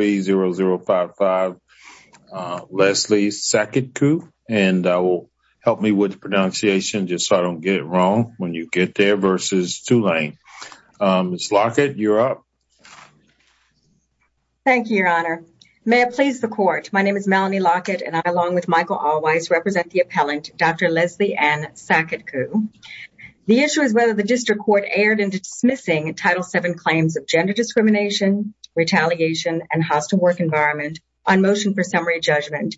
0055 Leslie Saketkoo. And I will help me with pronunciation just so I don't get it wrong when you get there versus Tulane. Ms. Lockett, you're up. Thank you, Your Honor. May it please the Court. My name is Melanie Lockett and I, along with Michael Allwise, represent the appellant, Dr. Leslie Ann Saketkoo. The issue is whether the District Court erred in dismissing Title VII claims of gender discrimination, retaliation, and hostile work environment on motion for summary judgment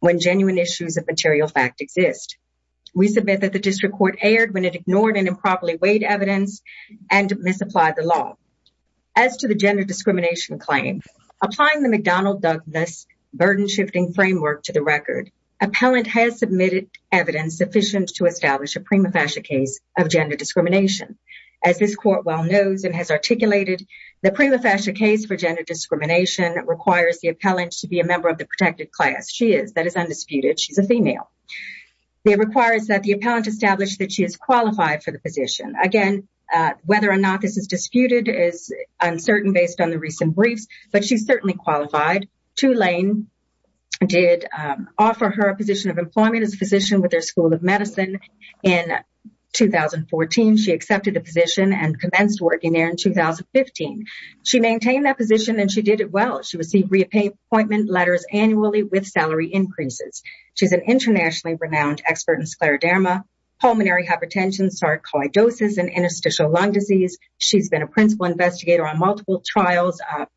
when genuine issues of material fact exist. We submit that the District Court erred when it ignored and improperly weighed evidence and misapplied the law. As to the gender discrimination claim, applying the McDonnell-Douglas burden-shifting framework to the record, appellant has submitted evidence sufficient to establish a prima facie case of gender discrimination. As this Court well the appellant to be a member of the protected class. She is. That is undisputed. She's a female. It requires that the appellant establish that she is qualified for the position. Again, whether or not this is disputed is uncertain based on the recent briefs, but she's certainly qualified. Tulane did offer her a position of employment as a physician with their School of Medicine in 2014. She accepted the position and commenced working there in 2015. She maintained that position and she did it well. She received reappointment letters annually with salary increases. She's an internationally renowned expert in scleroderma, pulmonary hypertension, sarcoidosis, and interstitial lung disease. She's been a principal investigator on multiple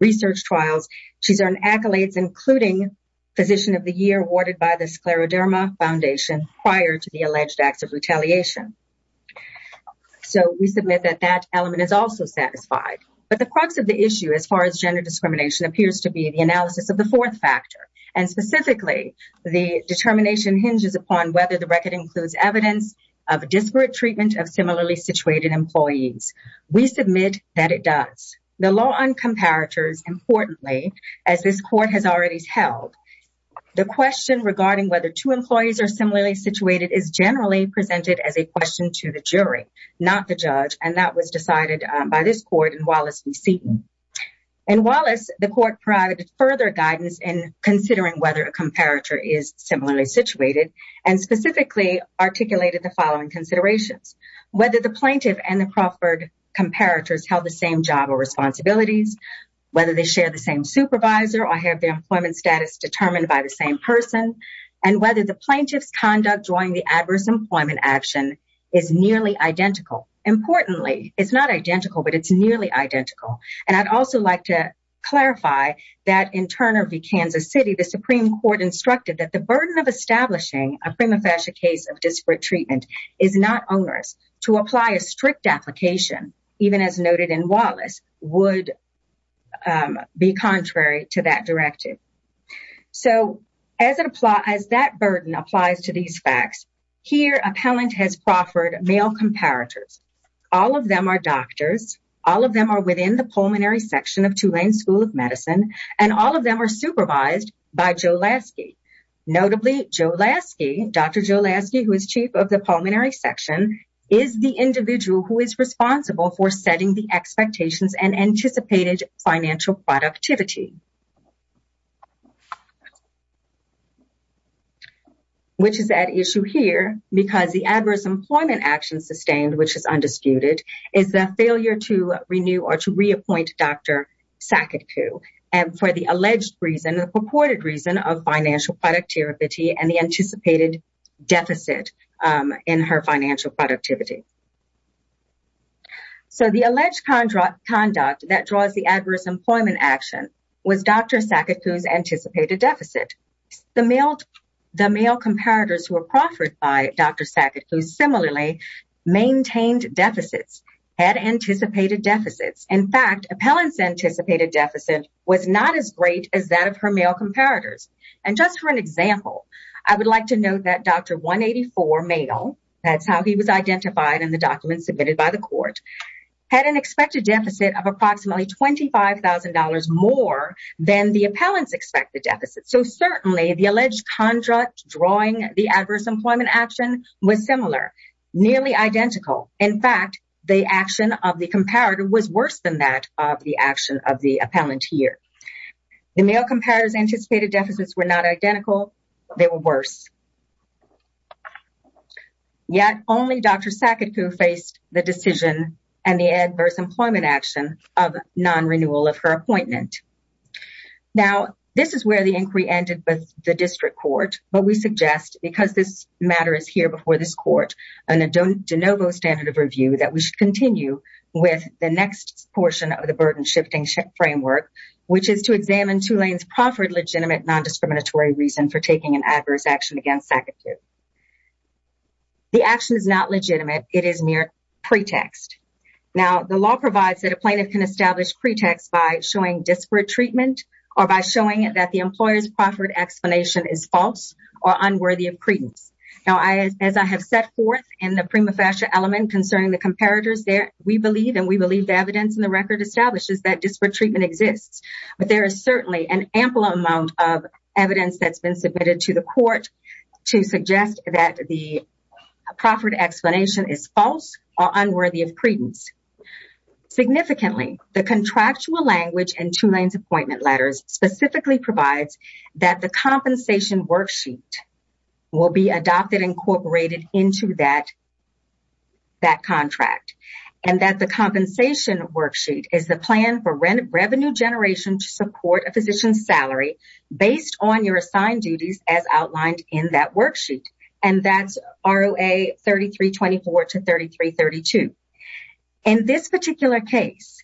research trials. She's earned accolades including Physician of the Year awarded by the Scleroderma Foundation prior to the alleged acts of retaliation. So we submit that that element is also satisfied. But the crux of the issue as far as gender discrimination appears to be the analysis of the fourth factor. And specifically, the determination hinges upon whether the record includes evidence of disparate treatment of similarly situated employees. We submit that it does. The law on comparators, importantly, as this court has already held, the question regarding whether two employees are similarly situated is generally presented as a question to the jury, not the judge. And that was decided by this court in Wallace v. Seaton. In Wallace, the court provided further guidance in considering whether a comparator is similarly situated and specifically articulated the following considerations. Whether the plaintiff and the proffered comparators held the same job or responsibilities, whether they share the same supervisor or have their employment status determined by the same person, and whether the plaintiff's conduct during the adverse employment action is nearly identical. Importantly, it's not identical, but it's nearly identical. And I'd also like to clarify that in Turner v. Kansas City, the Supreme Court instructed that the burden of establishing a prima facie case of disparate treatment is not onerous. To apply a strict application, even as noted in Wallace, would be contrary to that directive. So, as that burden applies to these facts, here, appellant has proffered male comparators. All of them are doctors, all of them are within the pulmonary section of Tulane School of Medicine, and all of them are supervised by Joe Lasky. Notably, Joe Lasky, Dr. Joe Lasky, who is chief of the pulmonary section, is the individual who setting the expectations and anticipated financial productivity. Which is at issue here, because the adverse employment action sustained, which is undisputed, is the failure to renew or to reappoint Dr. Saketku. And for the alleged reason, the purported reason of financial productivity and the anticipated deficit in her financial productivity. So, the alleged conduct that draws the adverse employment action was Dr. Saketku's anticipated deficit. The male comparators who were proffered by Dr. Saketku, similarly, maintained deficits, had anticipated deficits. In fact, appellant's anticipated deficit was not as great as that of her male comparators. And just for an example, I would like to note that Dr. 184 male, that's how he was identified in the document submitted by the court, had an expected deficit of approximately $25,000 more than the appellant's expected deficit. So certainly, the alleged contract drawing the adverse employment action was similar, nearly identical. In fact, the action of the comparator was worse than that of the action of the appellant here. The male comparators anticipated deficits were not identical, they were worse. Yet, only Dr. Saketku faced the decision and the adverse employment action of non-renewal of her appointment. Now, this is where the inquiry ended with the district court, but we suggest, because this matter is here before this court, and a de novo standard of review, that we should continue with the next portion of the burden shifting framework, which is to examine Tulane's proffered legitimate non-discriminatory reason for taking an adverse action against Saketku. The action is not legitimate, it is mere pretext. Now, the law provides that a plaintiff can establish pretext by showing disparate treatment or by showing that the employer's proffered explanation is false or unworthy of credence. Now, as I have set forth in the prima facie element concerning the comparators there, we believe, and we believe the evidence in the record establishes disparate treatment exists, but there is certainly an ample amount of evidence that's been submitted to the court to suggest that the proffered explanation is false or unworthy of credence. Significantly, the contractual language in Tulane's appointment letters specifically provides that the compensation worksheet will be adopted and incorporated into that contract, and that the compensation worksheet is the plan for revenue generation to support a physician's salary based on your assigned duties as outlined in that worksheet, and that's ROA 3324 to 3332. In this particular case,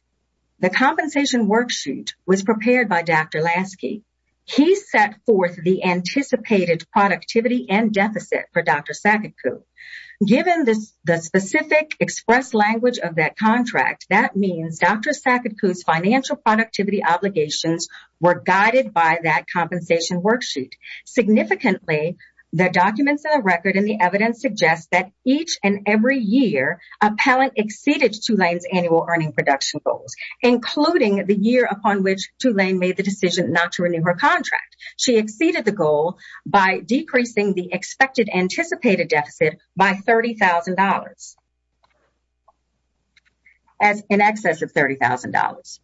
the compensation worksheet was prepared by Dr. Lasky. He set forth the anticipated productivity and deficit for Dr. Saketku. Given the specific express language of that contract, that means Dr. Saketku's financial productivity obligations were guided by that compensation worksheet. Significantly, the documents in the record and the evidence suggest that each and every year, appellant exceeded Tulane's annual earning production goals, including the year upon which Tulane made the decision not to renew her contract. She exceeded the goal by decreasing the expected anticipated deficit by $30,000. As in excess of $30,000,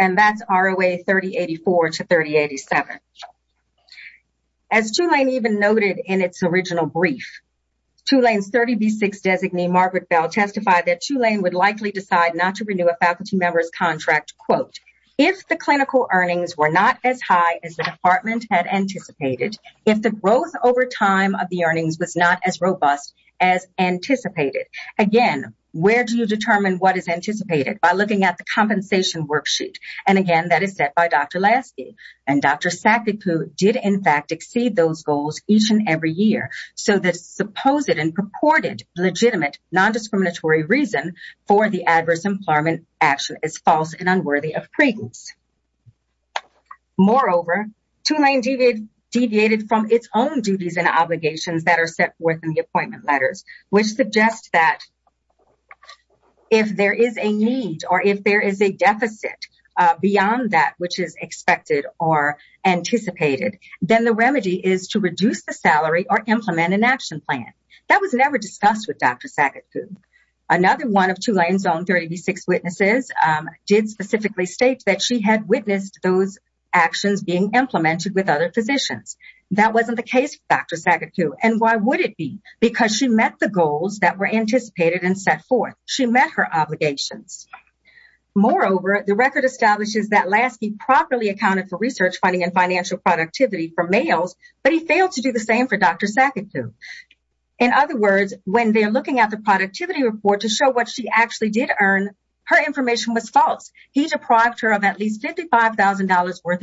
and that's ROA 3084 to 3087. As Tulane even noted in its original brief, Tulane's 30B-6 designee, Margaret Bell, testified that Tulane would likely decide not to renew a faculty member's contract, quote, if the clinical earnings were not as high as the department had anticipated, if the growth over time of the earnings was not as robust as anticipated. Again, where do you determine what is anticipated? By looking at the compensation worksheet. And again, that is set by Dr. Lasky. And Dr. Saketku did in fact exceed those goals each and every year. So the supposed and purported legitimate non-discriminatory reason for the duties and obligations that are set forth in the appointment letters, which suggests that if there is a need or if there is a deficit beyond that which is expected or anticipated, then the remedy is to reduce the salary or implement an action plan. That was never discussed with Dr. Saketku. Another one of Tulane's own 30B-6 witnesses did specifically state that she had witnessed those actions being implemented with other physicians. That wasn't the case for Dr. Saketku. And why would it be? Because she met the goals that were anticipated and set forth. She met her obligations. Moreover, the record establishes that Lasky properly accounted for research funding and financial productivity for males, but he failed to do the same for Dr. Saketku. In other words, when they're looking at the productivity report to show what she actually did earn, her information was false. He deprived her of at least $55,000 worth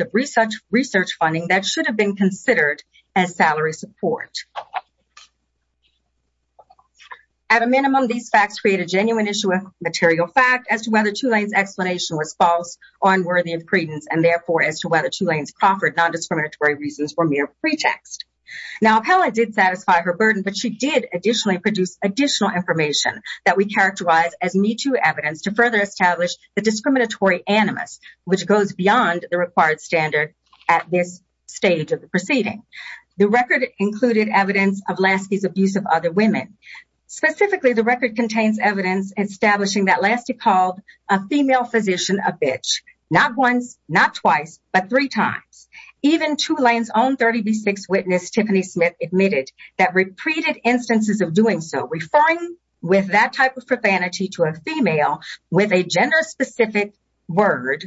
research funding that should have been considered as salary support. At a minimum, these facts create a genuine issue of material fact as to whether Tulane's explanation was false or unworthy of credence and therefore as to whether Tulane's Crawford non-discriminatory reasons were mere pretext. Now, appellate did satisfy her burden, but she did additionally produce additional information that we characterize as need-to evidence to further the discriminatory animus, which goes beyond the required standard at this stage of the proceeding. The record included evidence of Lasky's abuse of other women. Specifically, the record contains evidence establishing that Lasky called a female physician a bitch, not once, not twice, but three times. Even Tulane's own 30B6 witness, Tiffany Smith, admitted that repeated instances of doing so, referring with that type of profanity to a female with a gender specific word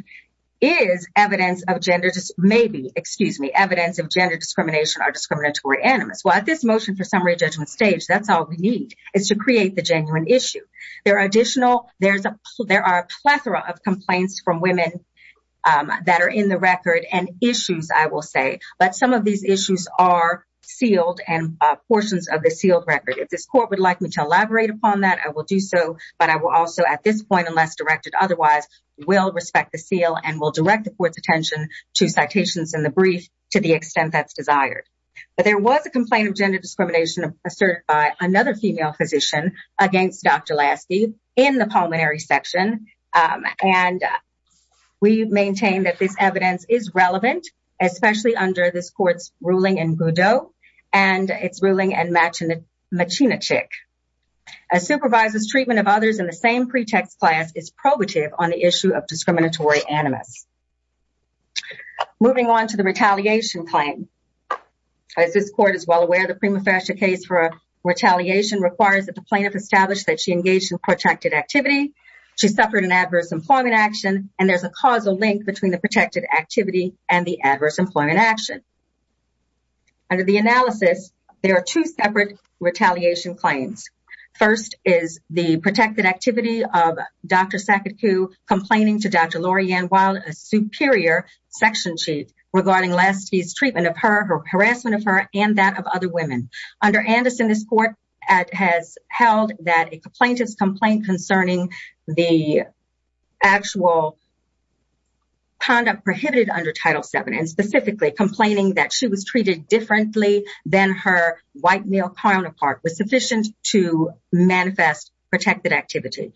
is evidence of gender, maybe, excuse me, evidence of gender discrimination or discriminatory animus. Well, at this motion for summary judgment stage, that's all we need is to create the genuine issue. There are additional, there are a plethora of complaints from women that are in the record and issues, I will say, but some of these issues are sealed and portions of the sealed record. If this court would like me to elaborate upon that, I will do so, but I will also, at this point, unless directed otherwise, will respect the seal and will direct the court's attention to citations in the brief to the extent that's desired. But there was a complaint of gender discrimination asserted by another female physician against Dr. Lasky in the pulmonary section, and we maintain that this evidence is relevant, especially under this court's and its ruling and machinachick. A supervisor's treatment of others in the same pretext class is probative on the issue of discriminatory animus. Moving on to the retaliation claim. As this court is well aware, the prima facie case for retaliation requires that the plaintiff establish that she engaged in protracted activity, she suffered an adverse employment action, and there's a causal link between the protected activity and the adverse employment action. Under the analysis, there are two separate retaliation claims. First is the protected activity of Dr. Saketku complaining to Dr. Lorianne Wilde, a superior section chief, regarding Lasky's treatment of her, her harassment of her, and that of other women. Under Anderson, this court has held that a plaintiff's complaint concerning the actual conduct prohibited under Title VII, and specifically complaining that she was treated differently than her white male counterpart, was sufficient to manifest protected activity.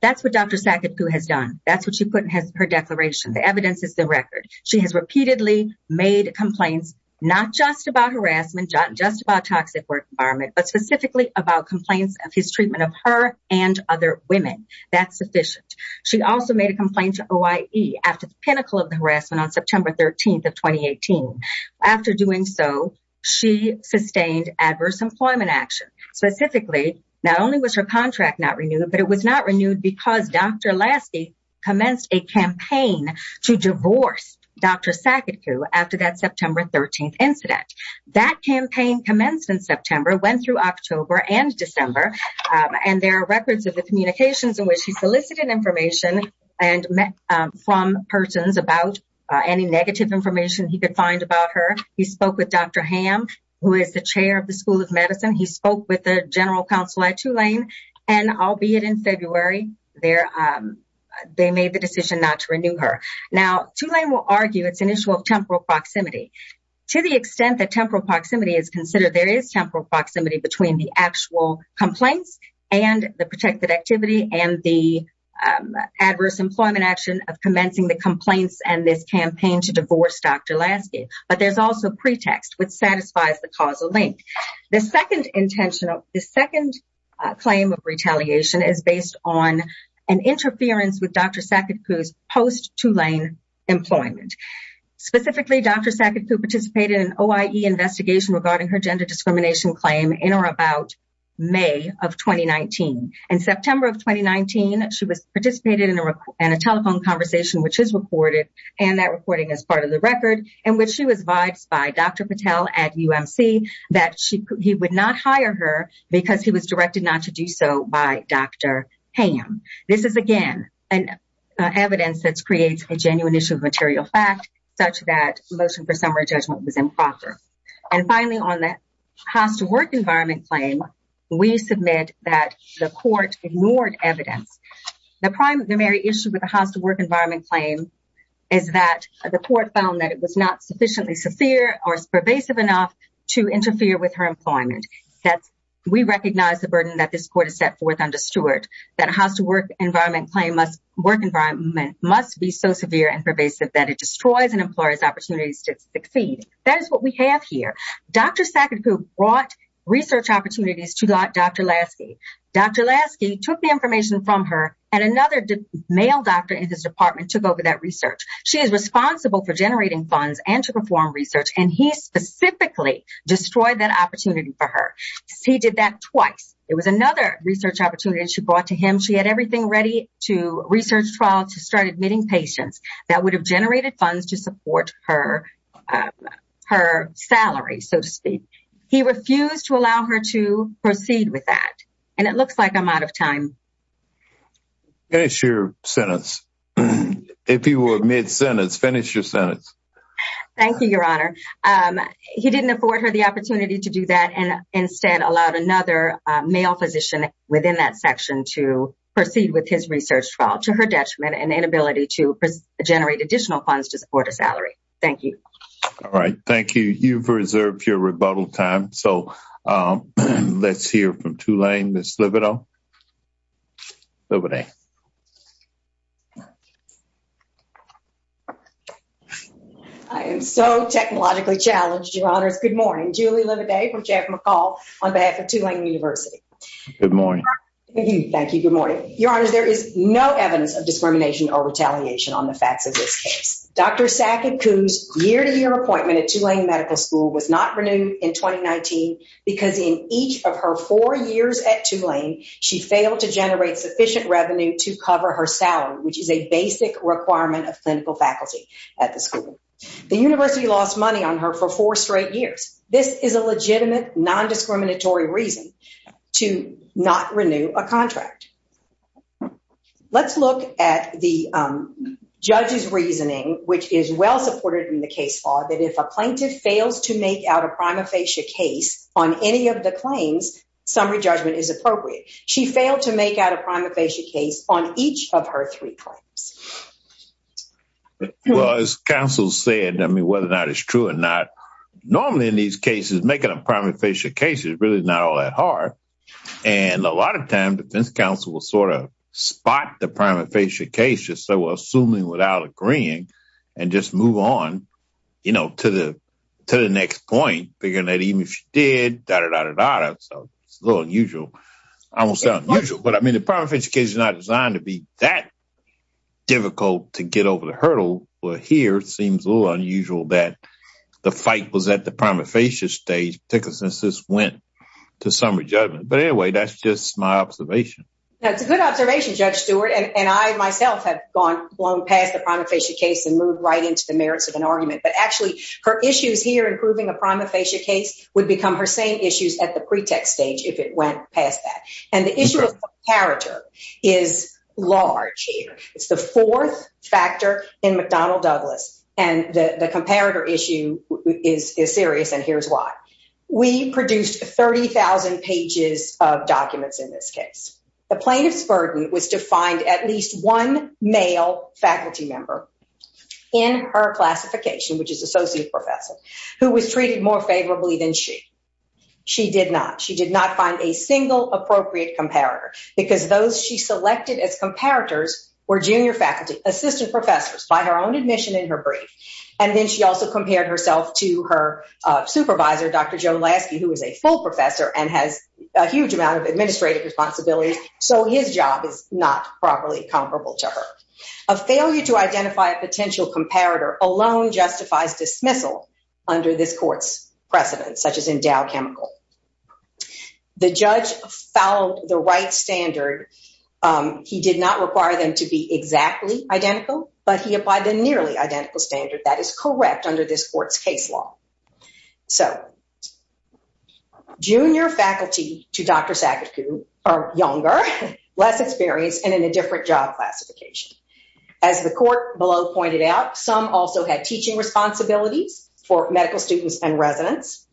That's what Dr. Saketku has done. That's what she put in her declaration. The evidence is the record. She has repeatedly made complaints, not just about harassment, not just about toxic work environment, but specifically about complaints of his treatment of her and other women. That's OIE after the pinnacle of the harassment on September 13th of 2018. After doing so, she sustained adverse employment action. Specifically, not only was her contract not renewed, but it was not renewed because Dr. Lasky commenced a campaign to divorce Dr. Saketku after that September 13th incident. That campaign commenced in September, went through October and December, and there are records of the communications in which he solicited information from persons about any negative information he could find about her. He spoke with Dr. Ham, who is the chair of the School of Medicine. He spoke with the general counsel at Tulane, and albeit in February, they made the decision not to renew her. Now, Tulane will argue it's an issue of temporal proximity. To the extent that temporal proximity is considered, there is temporal proximity between the actual complaints and the protected activity and the adverse employment action of commencing the complaints and this campaign to divorce Dr. Lasky. But there's also pretext, which satisfies the causal link. The second claim of retaliation is based on an interference with Dr. Saketku's post-Tulane employment. Specifically, Dr. Saketku participated in an OIE investigation regarding her gender discrimination claim in or about May of 2019. In September of 2019, she participated in a telephone conversation, which is recorded, and that recording is part of the record, in which she was advised by Dr. Patel at UMC that he would not hire her because he was directed not to do so by Dr. Ham. This is, again, evidence that creates a genuine issue of material fact, such that the motion for work environment claim, we submit that the court ignored evidence. The primary issue with the house to work environment claim is that the court found that it was not sufficiently severe or pervasive enough to interfere with her employment. We recognize the burden that this court has set forth under Stewart, that a house to work environment claim must be so severe and pervasive that it destroys an employer's opportunities to succeed. That is what we have here. Dr. Saketku brought research opportunities to Dr. Lasky. Dr. Lasky took the information from her, and another male doctor in his department took over that research. She is responsible for generating funds and to perform research, and he specifically destroyed that opportunity for her. He did that twice. It was another research opportunity she brought to him. She had everything ready to research trials to start admitting patients that would have generated funds to support her salary, so to speak. He refused to allow her to proceed with that, and it looks like I'm out of time. Finish your sentence. If you will admit sentence, finish your sentence. Thank you, Your Honor. He didn't afford her the opportunity to do that, and instead allowed another male physician within that section to proceed with his research trial and inability to generate additional funds to support a salary. Thank you. All right. Thank you. You've reserved your rebuttal time, so let's hear from Tulane. I am so technologically challenged, Your Honors. Good morning. Julie Lividay from Jeff McCall on behalf of Tulane University. Good morning. Thank you. Good morning. Your Honors, there is no evidence of discrimination or retaliation on the facts of this case. Dr. Sackett-Kuhn's year-to-year appointment at Tulane Medical School was not renewed in 2019 because in each of her four years at Tulane, she failed to generate sufficient revenue to cover her salary, which is a basic requirement of clinical faculty at the school. The university lost money on her for four straight years. This is a legitimate, non-discriminatory reason to not a contract. Let's look at the judge's reasoning, which is well supported in the case law, that if a plaintiff fails to make out a prima facie case on any of the claims, summary judgment is appropriate. She failed to make out a prima facie case on each of her three claims. Well, as counsel said, I mean, whether or not it's true or not, normally in these cases, making a prima facie case is really not all that hard. And a lot of times, defense counsel will sort of spot the prima facie case, just so we're assuming without agreeing, and just move on, you know, to the next point, figuring that even if she did, da-da-da-da-da-da, so it's a little unusual. I won't say unusual, but I mean, the prima facie case is not designed to be that difficult to get over the hurdle. Well, here, it seems a little unusual that the fight was at the prima facie stage, particularly since this went to summary judgment. But anyway, that's just my observation. That's a good observation, Judge Stewart. And I, myself, have gone past the prima facie case and moved right into the merits of an argument. But actually, her issues here in proving a prima facie case would become her same issues at the pretext stage if it went past that. And the issue of comparator is large here. It's the fourth factor in McDonnell Douglas, and the comparator issue is serious, and here's why. We produced 30,000 pages of documents in this case. The plaintiff's burden was to find at least one male faculty member in her classification, which is associate professor, who was treated more favorably than she. She did not. She did not find a single appropriate comparator, because those she selected as in her brief. And then she also compared herself to her supervisor, Dr. Joe Lasky, who is a full professor and has a huge amount of administrative responsibilities. So his job is not properly comparable to her. A failure to identify a potential comparator alone justifies dismissal under this court's precedent, such as endowed chemical. The judge followed the right identical standard that is correct under this court's case law. So junior faculty to Dr. Sakaguchi are younger, less experienced, and in a different job classification. As the court below pointed out, some also had teaching responsibilities for medical students and residents.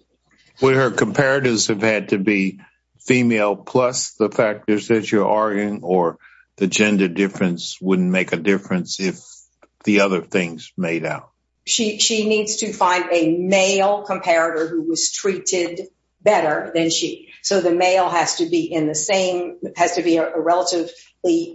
Would her comparators have had to be female plus the factors that you're arguing, or the gender difference wouldn't make a difference if the other things made out? She needs to find a male comparator who was treated better than she. So the male has to be in the same, has to be a relatively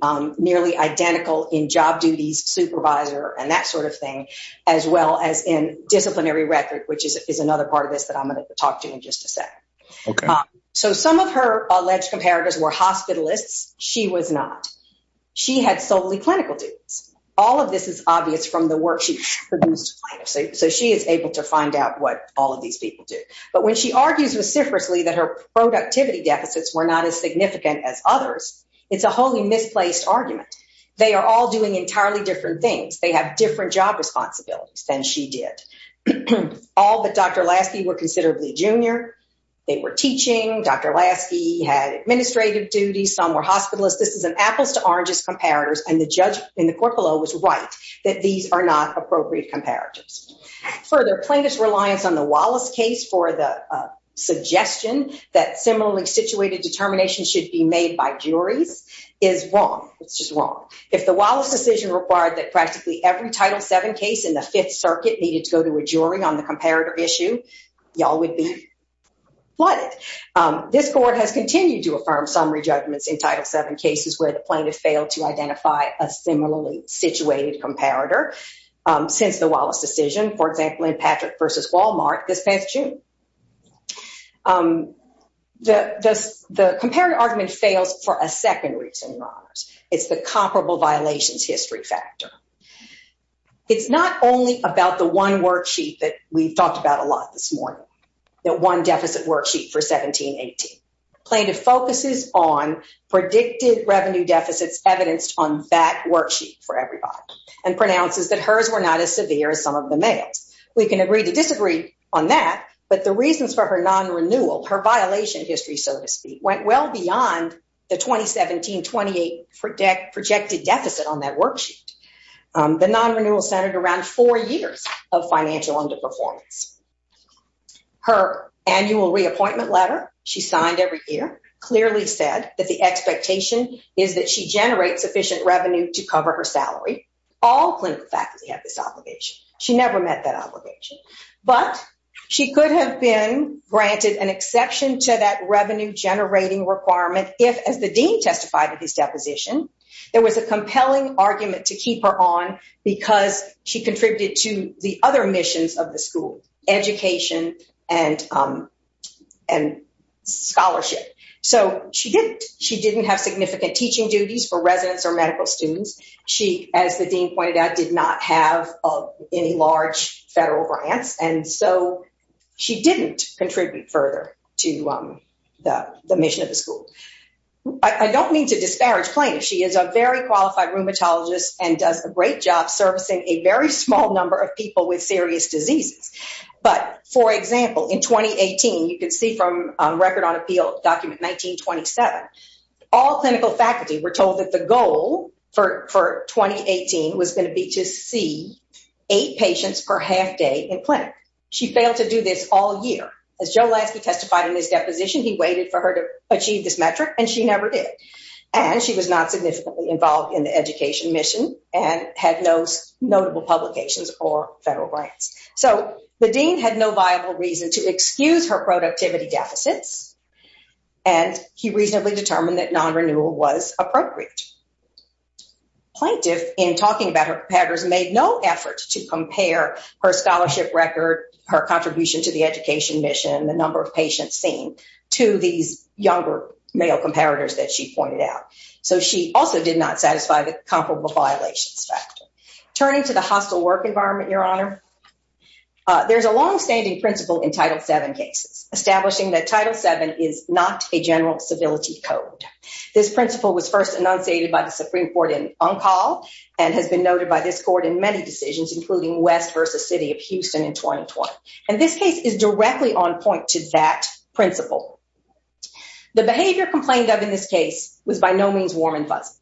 nearly identical in job duties supervisor and that sort of thing, as well as in disciplinary record, which is another part of this that I'm going to talk to you in just a second. So some of her alleged comparators were hospitalists. She was not. She had solely clinical duties. All of this is obvious from the work she produced. So she is able to find out what all of these people do. But when she argues reciprocally that her productivity deficits were not as significant as others, it's a wholly misplaced argument. They are all doing entirely different things. They have different job responsibilities than she did. All but Dr. Lee Jr. They were teaching. Dr. Lasky had administrative duties. Some were hospitalists. This is an apples to oranges comparators. And the judge in the court below was right that these are not appropriate comparators. Further plaintiff's reliance on the Wallace case for the suggestion that similarly situated determination should be made by juries is wrong. It's just wrong. If the Wallace decision required that practically every Title VII case in the Fifth Circuit be flooded, this court has continued to affirm summary judgments in Title VII cases where the plaintiff failed to identify a similarly situated comparator since the Wallace decision, for example, in Patrick v. Wal-Mart this past June. The comparative argument fails for a second reason, Your Honors. It's the comparable violations history factor. It's not only about the one deficit worksheet for 17-18. Plaintiff focuses on predicted revenue deficits evidenced on that worksheet for everybody and pronounces that hers were not as severe as some of the males. We can agree to disagree on that, but the reasons for her non-renewal, her violation history, so to speak, went well beyond the 2017-28 projected deficit on that worksheet. The non-renewal centered around four years of financial underperformance. Her annual reappointment letter she signed every year clearly said that the expectation is that she generates sufficient revenue to cover her salary. All clinical faculty have this obligation. She never met that obligation, but she could have been granted an exception to that revenue generating requirement if, as the dean testified at his deposition, there was a compelling argument to keep her on because she contributed to the other missions of the school, education and scholarship. She didn't have significant teaching duties for residents or medical students. She, as the dean pointed out, did not have any large federal grants, and so she didn't contribute further to the mission of the school. I don't mean to disparage Plaintiff. She is a very qualified rheumatologist and does a great job servicing a very small number of people with serious diseases. But, for example, in 2018, you can see from record on appeal document 1927, all clinical faculty were told that the goal for 2018 was going to be to see eight patients per half day in clinic. She failed to do this all year. As Joe Lansky testified in his deposition, he waited for her to achieve this metric, and she never did, and she was not significantly involved in the education mission and had no notable publications or federal grants. So the dean had no viable reason to excuse her productivity deficits, and he reasonably determined that non-renewal was appropriate. Plaintiff, in talking about her competitors, made no effort to compare her scholarship record, her contribution to the education mission, the number of patients seen, to these younger male comparators that she pointed out. So she also did not satisfy the comparable violations factor. Turning to the hostile work environment, Your Honor, there's a long-standing principle in Title VII cases establishing that Title VII is not a general civility code. This principle was first enunciated by the Supreme Court in Uncal and has been noted by this court in many decisions, including West v. City of Houston in 2020. And this case is not unusual. The behavior complained of in this case was by no means warm and fuzzy,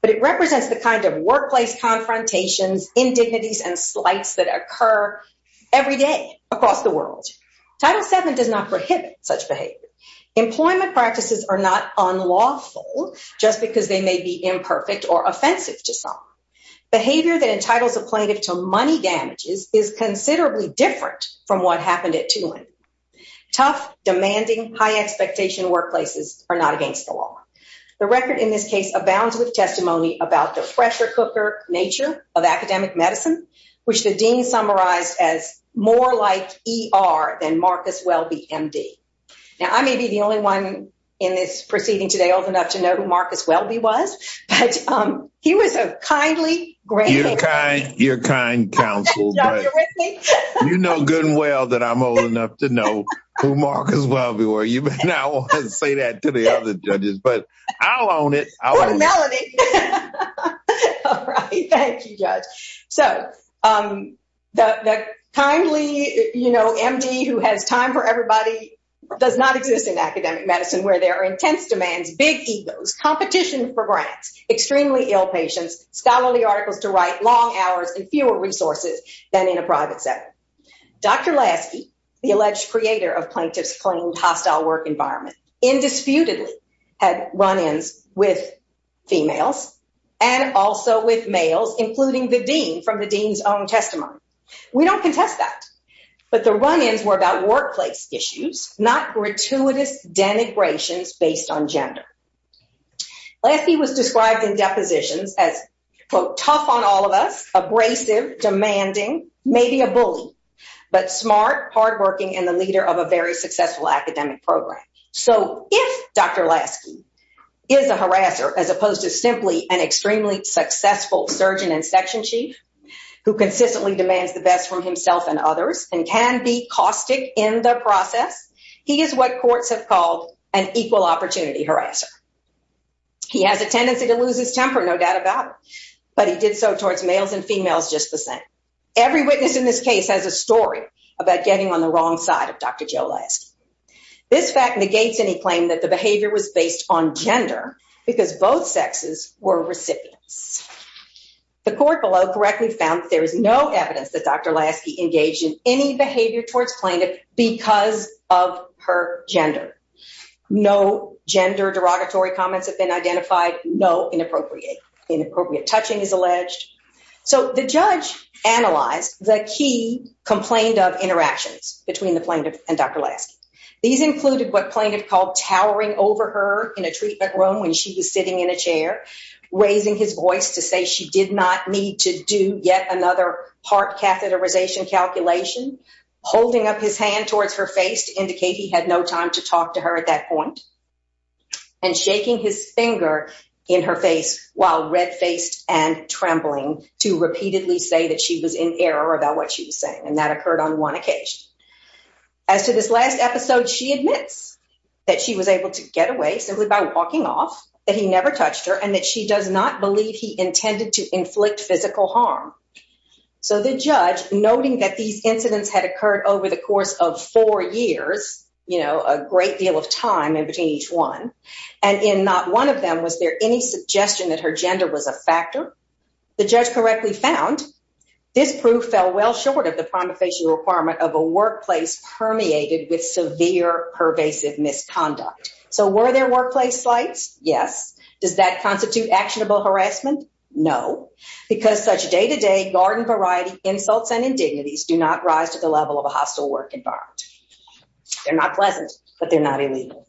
but it represents the kind of workplace confrontations, indignities, and slights that occur every day across the world. Title VII does not prohibit such behavior. Employment practices are not unlawful just because they may be imperfect or offensive to some. Behavior that entitles a plaintiff to high-expectation workplaces are not against the law. The record in this case abounds with testimony about the fresher-cooker nature of academic medicine, which the dean summarized as more like ER than Marcus Welby, M.D. Now, I may be the only one in this proceeding today old enough to know who Marcus Welby was, but he was a kindly, great man. You're kind counsel. You know good and well that I'm old enough to know who Marcus Welby was. You may not want to say that to the other judges, but I'll own it. Melody. All right. Thank you, Judge. So, the kindly, you know, M.D. who has time for everybody does not exist in academic medicine, where there are intense demands, big egos, competition for grants, extremely ill patients, scholarly articles to write, long hours, and fewer resources than in a private setting. Dr. Lasky, the alleged creator of plaintiff's claimed hostile work environment, indisputably had run-ins with females and also with males, including the dean from the dean's own testimony. We don't contest that, but the run-ins were about workplace issues, not gratuitous denigrations based on gender. Lasky was described in depositions as, quote, tough on all of us, abrasive, demanding, maybe a bully, but smart, hardworking, and the leader of a very successful academic program. So, if Dr. Lasky is a harasser, as opposed to simply an extremely successful surgeon and section chief who consistently demands the best from himself and others and can be caustic in the process, he is what courts have called an equal opportunity harasser. He has a tendency to lose his temper, no doubt about it, but he did so towards males and females just the same. Every witness in this case has a story about getting on the wrong side of Dr. Joe Lasky. This fact negates any claim that the behavior was based on gender, because both sexes were recipients. The court below correctly found there is no evidence that Dr. Lasky engaged in any behavior towards plaintiff because of her gender. No gender derogatory comments have been identified, no inappropriate touching is alleged. So, the judge analyzed the key complaint of interactions between the plaintiff and Dr. Lasky. These included what plaintiff called towering over her in a treatment room when she was sitting in a catheterization calculation, holding up his hand towards her face to indicate he had no time to talk to her at that point, and shaking his finger in her face while red-faced and trembling to repeatedly say that she was in error about what she was saying, and that occurred on one occasion. As to this last episode, she admits that she was able to get away simply by walking off, that he never touched her, and that she does not believe he intended to inflict physical harm. So, the judge, noting that these incidents had occurred over the course of four years, you know, a great deal of time in between each one, and in not one of them was there any suggestion that her gender was a factor, the judge correctly found this proof fell well short of the prima facie requirement of a workplace permeated with severe pervasive misconduct. So, were there workplace slights? Yes. Does that constitute actionable harassment? No, because such day-to-day garden variety insults and indignities do not rise to the level of a hostile work environment. They're not pleasant, but they're not illegal.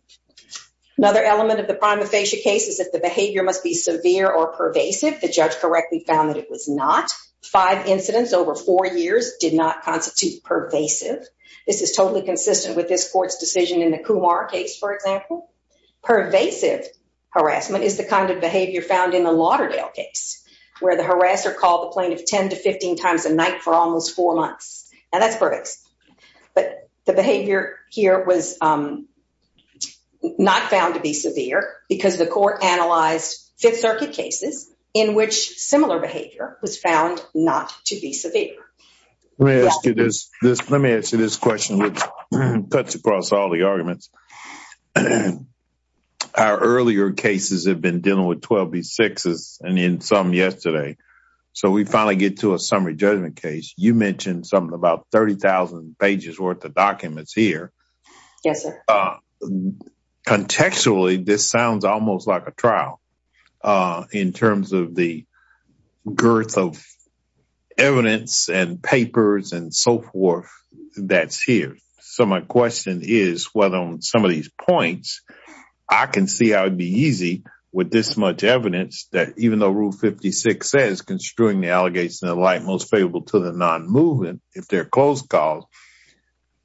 Another element of the prima facie case is that the behavior must be severe or pervasive. The judge correctly found that it was not. Five incidents over four years did not constitute pervasive. This is totally consistent with this court's decision in the Kumar case, for example. Pervasive harassment is the kind of behavior found in the Lauderdale case, where the harasser called the plaintiff 10 to 15 times a night for almost four months. Now, that's pervasive, but the behavior here was not found to be severe because the court analyzed Fifth Circuit cases in which similar behavior was found not to be severe. Let me ask you this. Let me answer this question, which cuts across all the arguments. Our earlier cases have been dealing with 12B6s and in some yesterday, so we finally get to a summary judgment case. You mentioned something about 30,000 pages worth of documents here. Yes, sir. Contextually, this sounds almost like a trial in terms of the girth of some of these points. I can see how it would be easy with this much evidence that even though Rule 56 says construing the allegations in the light most favorable to the non-movement, if they're close calls,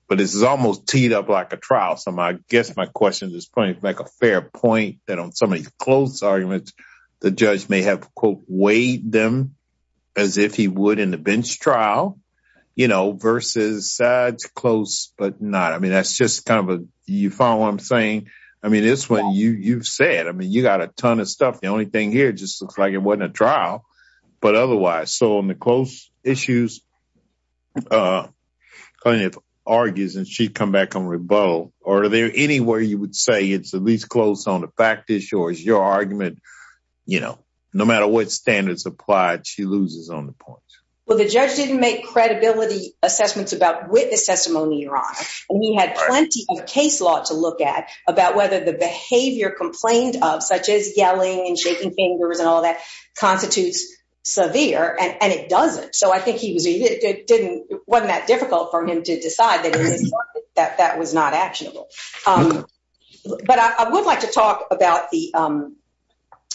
but this is almost teed up like a trial. I guess my question at this point is to make a fair point that on some of these close arguments, the judge may have, quote, weighed them as if he would in the bench trial versus sides close but not. That's just kind of you follow what I'm saying? I mean, it's what you've said. I mean, you got a ton of stuff. The only thing here just looks like it wasn't a trial, but otherwise, so on the close issues, plaintiff argues and she'd come back on rebuttal. Or are there anywhere you would say it's at least close on the fact issue or is your argument, you know, no matter what standards applied, she loses on the points? Well, the judge didn't make credibility assessments about this testimony, your honor. And he had plenty of case law to look at about whether the behavior complained of such as yelling and shaking fingers and all that constitutes severe and it doesn't. So I think he was, it wasn't that difficult for him to decide that that was not actionable. But I would like to talk about the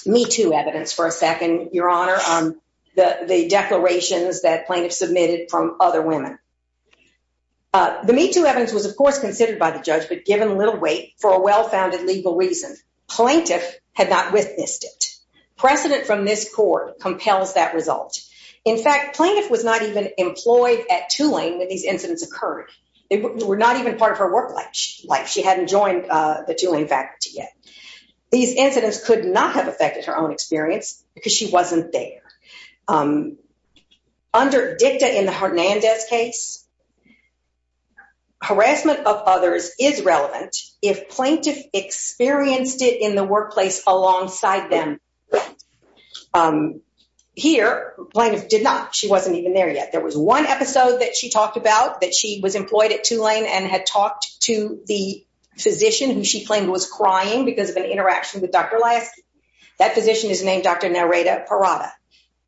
Me Too evidence for a second, your honor, the declarations that plaintiff submitted from other women. The Me Too evidence was, of course, considered by the judge, but given little weight for a well-founded legal reason. Plaintiff had not witnessed it. Precedent from this court compels that result. In fact, plaintiff was not even employed at Tulane when these incidents occurred. They were not even part of her work life. She hadn't joined the Tulane faculty yet. These incidents could not affect her own experience because she wasn't there. Under dicta in the Hernandez case, harassment of others is relevant if plaintiff experienced it in the workplace alongside them. Here, plaintiff did not. She wasn't even there yet. There was one episode that she talked about that she was employed at Tulane and had talked to the physician who she claimed was crying because of an interaction with Dr. Lasky. That physician is named Dr. Narita Parada.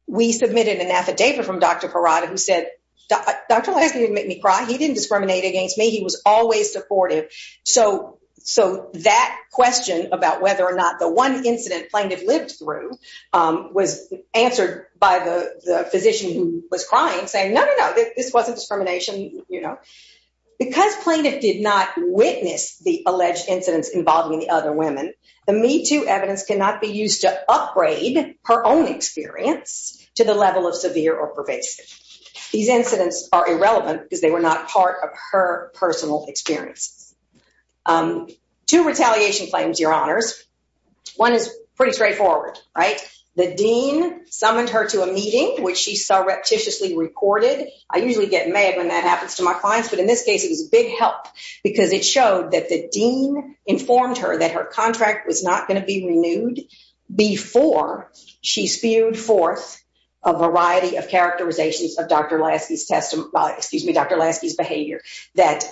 We submitted an affidavit from Dr. Parada who said, Dr. Lasky didn't make me cry. He didn't discriminate against me. He was always supportive. So that question about whether or not the one incident plaintiff lived through was answered by the physician who was crying saying, no, no, no, this wasn't discrimination, you know. Because plaintiff did not witness the alleged incidents involving the other women, the Me Too evidence cannot be used to upgrade her own experience to the level of severe or pervasive. These incidents are irrelevant because they were not part of her personal experiences. Two retaliation claims, your honors. One is pretty straightforward, right? The dean summoned her to a meeting which she saw repetitiously reported. I usually get mad when that happens to my clients, but in this case, it was a big help because it showed that the dean informed her that her contract was not going to be renewed before she spewed forth a variety of characterizations of Dr. Lasky's behavior that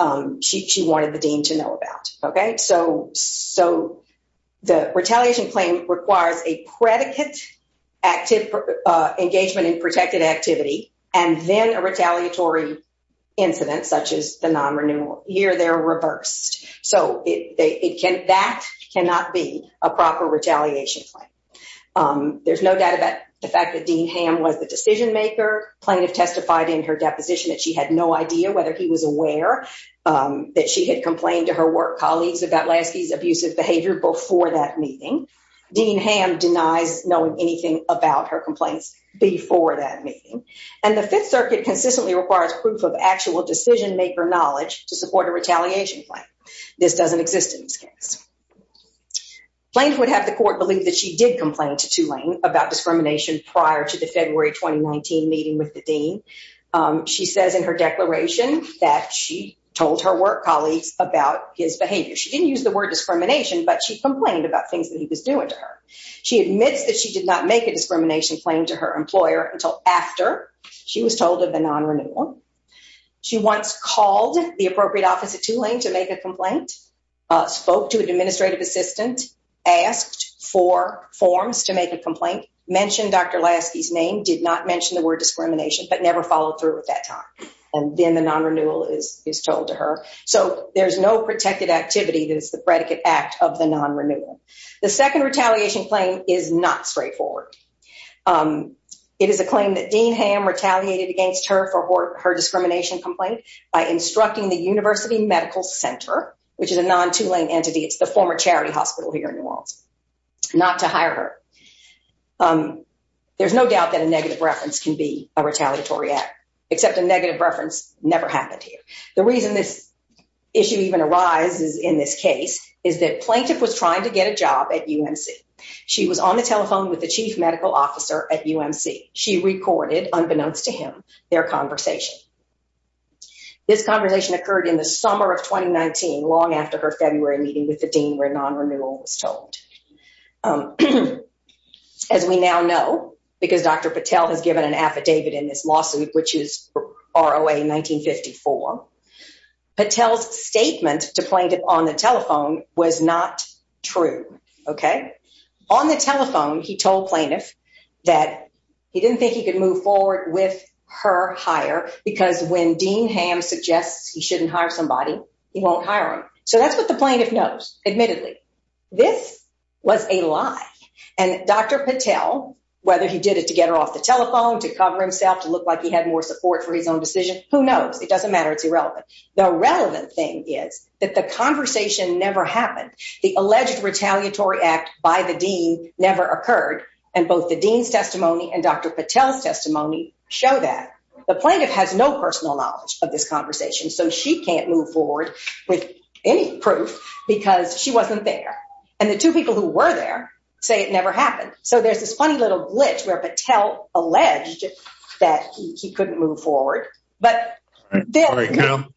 she wanted the dean to know about. Okay? So the retaliation claim requires a predicate engagement in protected activity and then a that cannot be a proper retaliation claim. There's no doubt about the fact that Dean Ham was the decision maker. Plaintiff testified in her deposition that she had no idea whether he was aware that she had complained to her work colleagues about Lasky's abusive behavior before that meeting. Dean Ham denies knowing anything about her complaints before that meeting. And the Fifth Circuit consistently requires proof of actual decision maker knowledge to support a case. Plaintiff would have the court believe that she did complain to Tulane about discrimination prior to the February 2019 meeting with the dean. She says in her declaration that she told her work colleagues about his behavior. She didn't use the word discrimination, but she complained about things that he was doing to her. She admits that she did not make a discrimination claim to her employer until after she was told of the non-renewal. She once called the appropriate office at Tulane to make a complaint, spoke to an administrative assistant, asked for forms to make a complaint, mentioned Dr. Lasky's name, did not mention the word discrimination, but never followed through at that time. And then the non-renewal is told to her. So there's no protected activity that is the predicate act of the non-renewal. The second retaliation claim is not straightforward. It is a claim that Dean Ham retaliated against her for her discrimination complaint by instructing the University Medical Center, which is a non-Tulane entity, it's the former charity hospital here in New Orleans, not to hire her. There's no doubt that a negative reference can be a retaliatory act, except a negative reference never happened here. The reason this issue even arises in this case is that plaintiff was trying to get a job at UMC. She was on the telephone with the chief medical officer at UMC. She recorded, unbeknownst to him, their conversation. This conversation occurred in the summer of 2019, long after her February meeting with the dean, where non-renewal was told. As we now know, because Dr. Patel has given an affidavit in this lawsuit, which is ROA 1954, Patel's statement to plaintiff on the telephone was not true. Okay? On the telephone, he told plaintiff that he didn't think he could move forward with her hire, because when Dean Ham suggests he shouldn't hire somebody, he won't hire him. So that's what the plaintiff knows, admittedly. This was a lie. And Dr. Patel, whether he did it to get her off the telephone, to cover himself, to look like he had more support for his own decision, who knows? It doesn't matter. It's irrelevant. The relevant thing is that the conversation never happened. The alleged retaliatory act by the dean never occurred, and both the dean's testimony and Dr. Patel's testimony, the plaintiff has no personal knowledge of this conversation. So she can't move forward with any proof, because she wasn't there. And the two people who were there say it never happened. So there's this funny little glitch where Patel alleged that he couldn't move forward.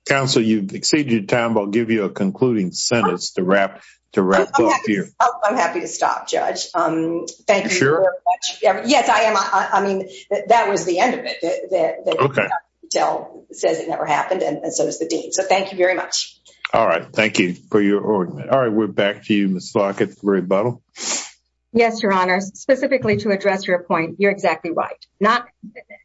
Counsel, you've exceeded your time. I'll give you a concluding sentence to wrap up here. I'm happy to stop, Judge. Thank you very much. Yes, I am. I mean, that was the end of it. Patel says it never happened, and so does the dean. So thank you very much. All right. Thank you for your argument. All right. We're back to you, Ms. Lockett, for a rebuttal. Yes, Your Honor. Specifically to address your point, you're exactly right.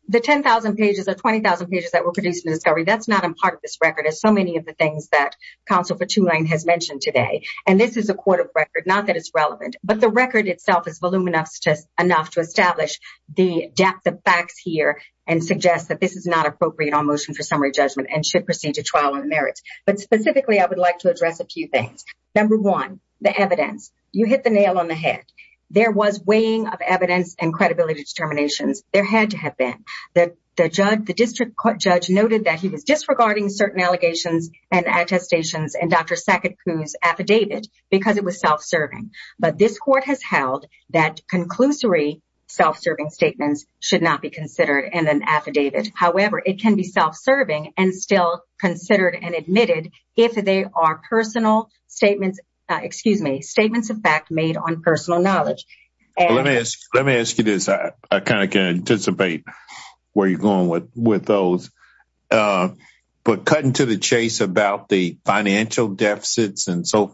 The 10,000 pages or 20,000 pages that were produced in the discovery, that's not a part of this record. It's so many of the things that Counsel for Tulane has mentioned today. And this is a court of record, not that it's relevant. But the record itself is voluminous enough to establish the depth of facts here and suggest that this is not appropriate on motion for summary judgment and should proceed to trial on the merits. But specifically, I would like to address a few things. Number one, the evidence. You hit the nail on the head. There was weighing of evidence and credibility determinations. There had to have been. The district court judge noted that he was disregarding certain allegations and attestations and Dr. Sackett-Coons affidavit because it was self-serving. But this court has held that conclusory self-serving statements should not be considered in an affidavit. However, it can be self-serving and still considered and admitted if they are personal statements, excuse me, statements of fact made on personal knowledge. Let me ask you this. I kind of can and so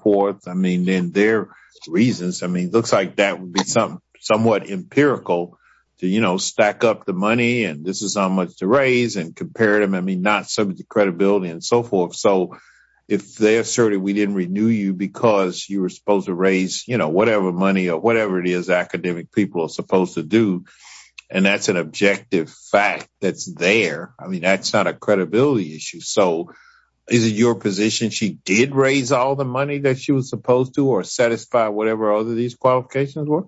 forth. I mean, in their reasons, I mean, it looks like that would be some somewhat empirical to, you know, stack up the money and this is how much to raise and compare them. I mean, not subject to credibility and so forth. So if they asserted we didn't renew you because you were supposed to raise, you know, whatever money or whatever it is academic people are supposed to do. And that's an objective fact that's there. I mean, that's not a credibility issue. So is it your position she did raise all the money that she was supposed to or satisfy whatever other these qualifications were?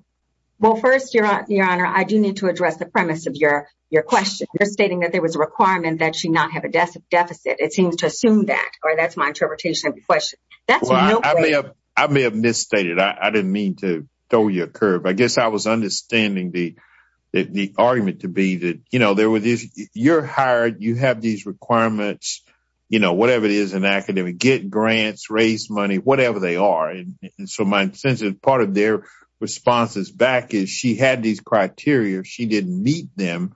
Well, first, your honor, I do need to address the premise of your question. You're stating that there was a requirement that she not have a deficit. It seems to assume that or that's my interpretation of the question. I may have misstated. I didn't mean to throw you a curve. I guess I was understanding the argument to be that, you're hired, you have these requirements, you know, whatever it is in academic, get grants, raise money, whatever they are. And so my sense is part of their responses back is she had these criteria. She didn't meet them.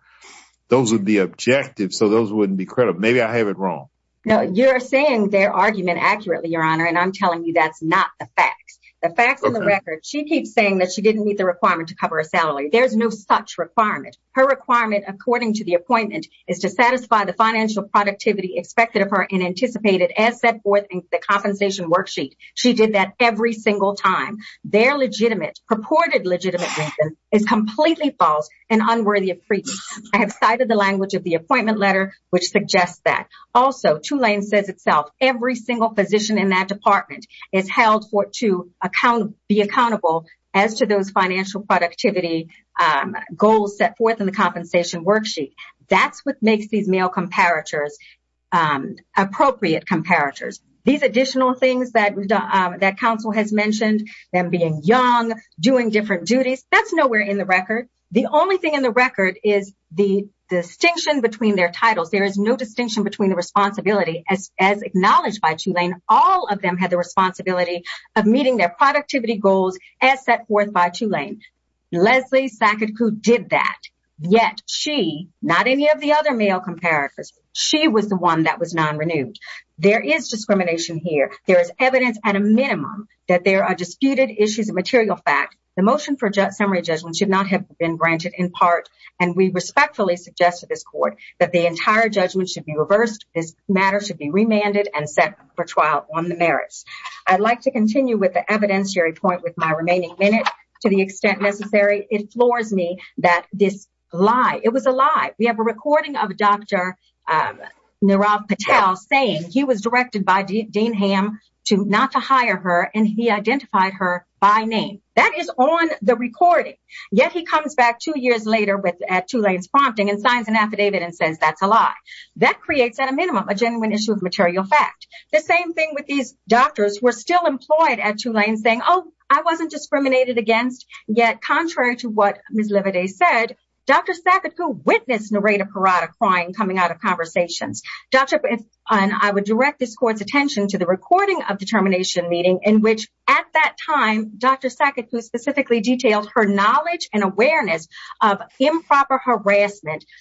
Those would be objective. So those wouldn't be credible. Maybe I have it wrong. No, you're saying their argument accurately, your honor. And I'm telling you, that's not the facts, the facts of the record. She keeps saying that she didn't meet the requirement to cover a salary. There's no such requirement. Her requirement, according to the appointment, is to satisfy the financial productivity expected of her and anticipated as set forth in the compensation worksheet. She did that every single time. Their legitimate, purported legitimate reason is completely false and unworthy of treatment. I have cited the language of the appointment letter, which suggests that. Also, Tulane says itself, every single position in that department is held to be accountable as to those financial productivity goals set forth in the compensation worksheet. That's what makes these male comparators appropriate comparators. These additional things that counsel has mentioned, them being young, doing different duties, that's nowhere in the record. The only thing in the record is the distinction between their titles. There is no distinction between the responsibility as acknowledged by Tulane. All of them had the responsibility of meeting their productivity goals as set forth by Tulane. Leslie Saketku did that. Yet she, not any of the other male comparators, she was the one that was non-renewed. There is discrimination here. There is evidence, at a minimum, that there are disputed issues of material fact. The motion for summary judgment should not have been granted in part. And we respectfully suggest to this court that the set for trial on the merits. I'd like to continue with the evidentiary point with my remaining minute. To the extent necessary, it floors me that this lie, it was a lie. We have a recording of Dr. Nirav Patel saying he was directed by Dean Ham not to hire her and he identified her by name. That is on the recording. Yet he comes back two years later at Tulane's prompting and says that's a lie. That creates, at a minimum, a genuine issue of material fact. The same thing with these doctors who are still employed at Tulane saying, oh, I wasn't discriminated against. Yet, contrary to what Ms. Lividay said, Dr. Saketku witnessed Narita Parada crying coming out of conversations. I would direct this court's attention to the recording of the termination meeting in which, at that time, Dr. Saketku specifically detailed her knowledge and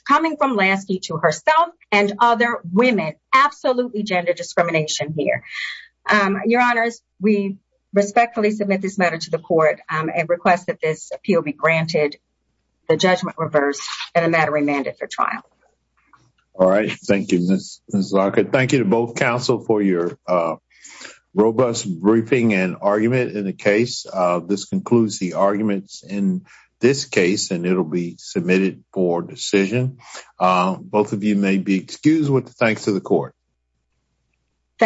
coming from Lansky to herself and other women. Absolutely gender discrimination here. Your Honors, we respectfully submit this matter to the court and request that this appeal be granted the judgment reversed and the matter remanded for trial. All right. Thank you, Ms. Larkin. Thank you to both counsel for your robust briefing and argument in the case. This concludes the arguments in this case, and it will be submitted for decision. Both of you may be excused. Thanks to the court.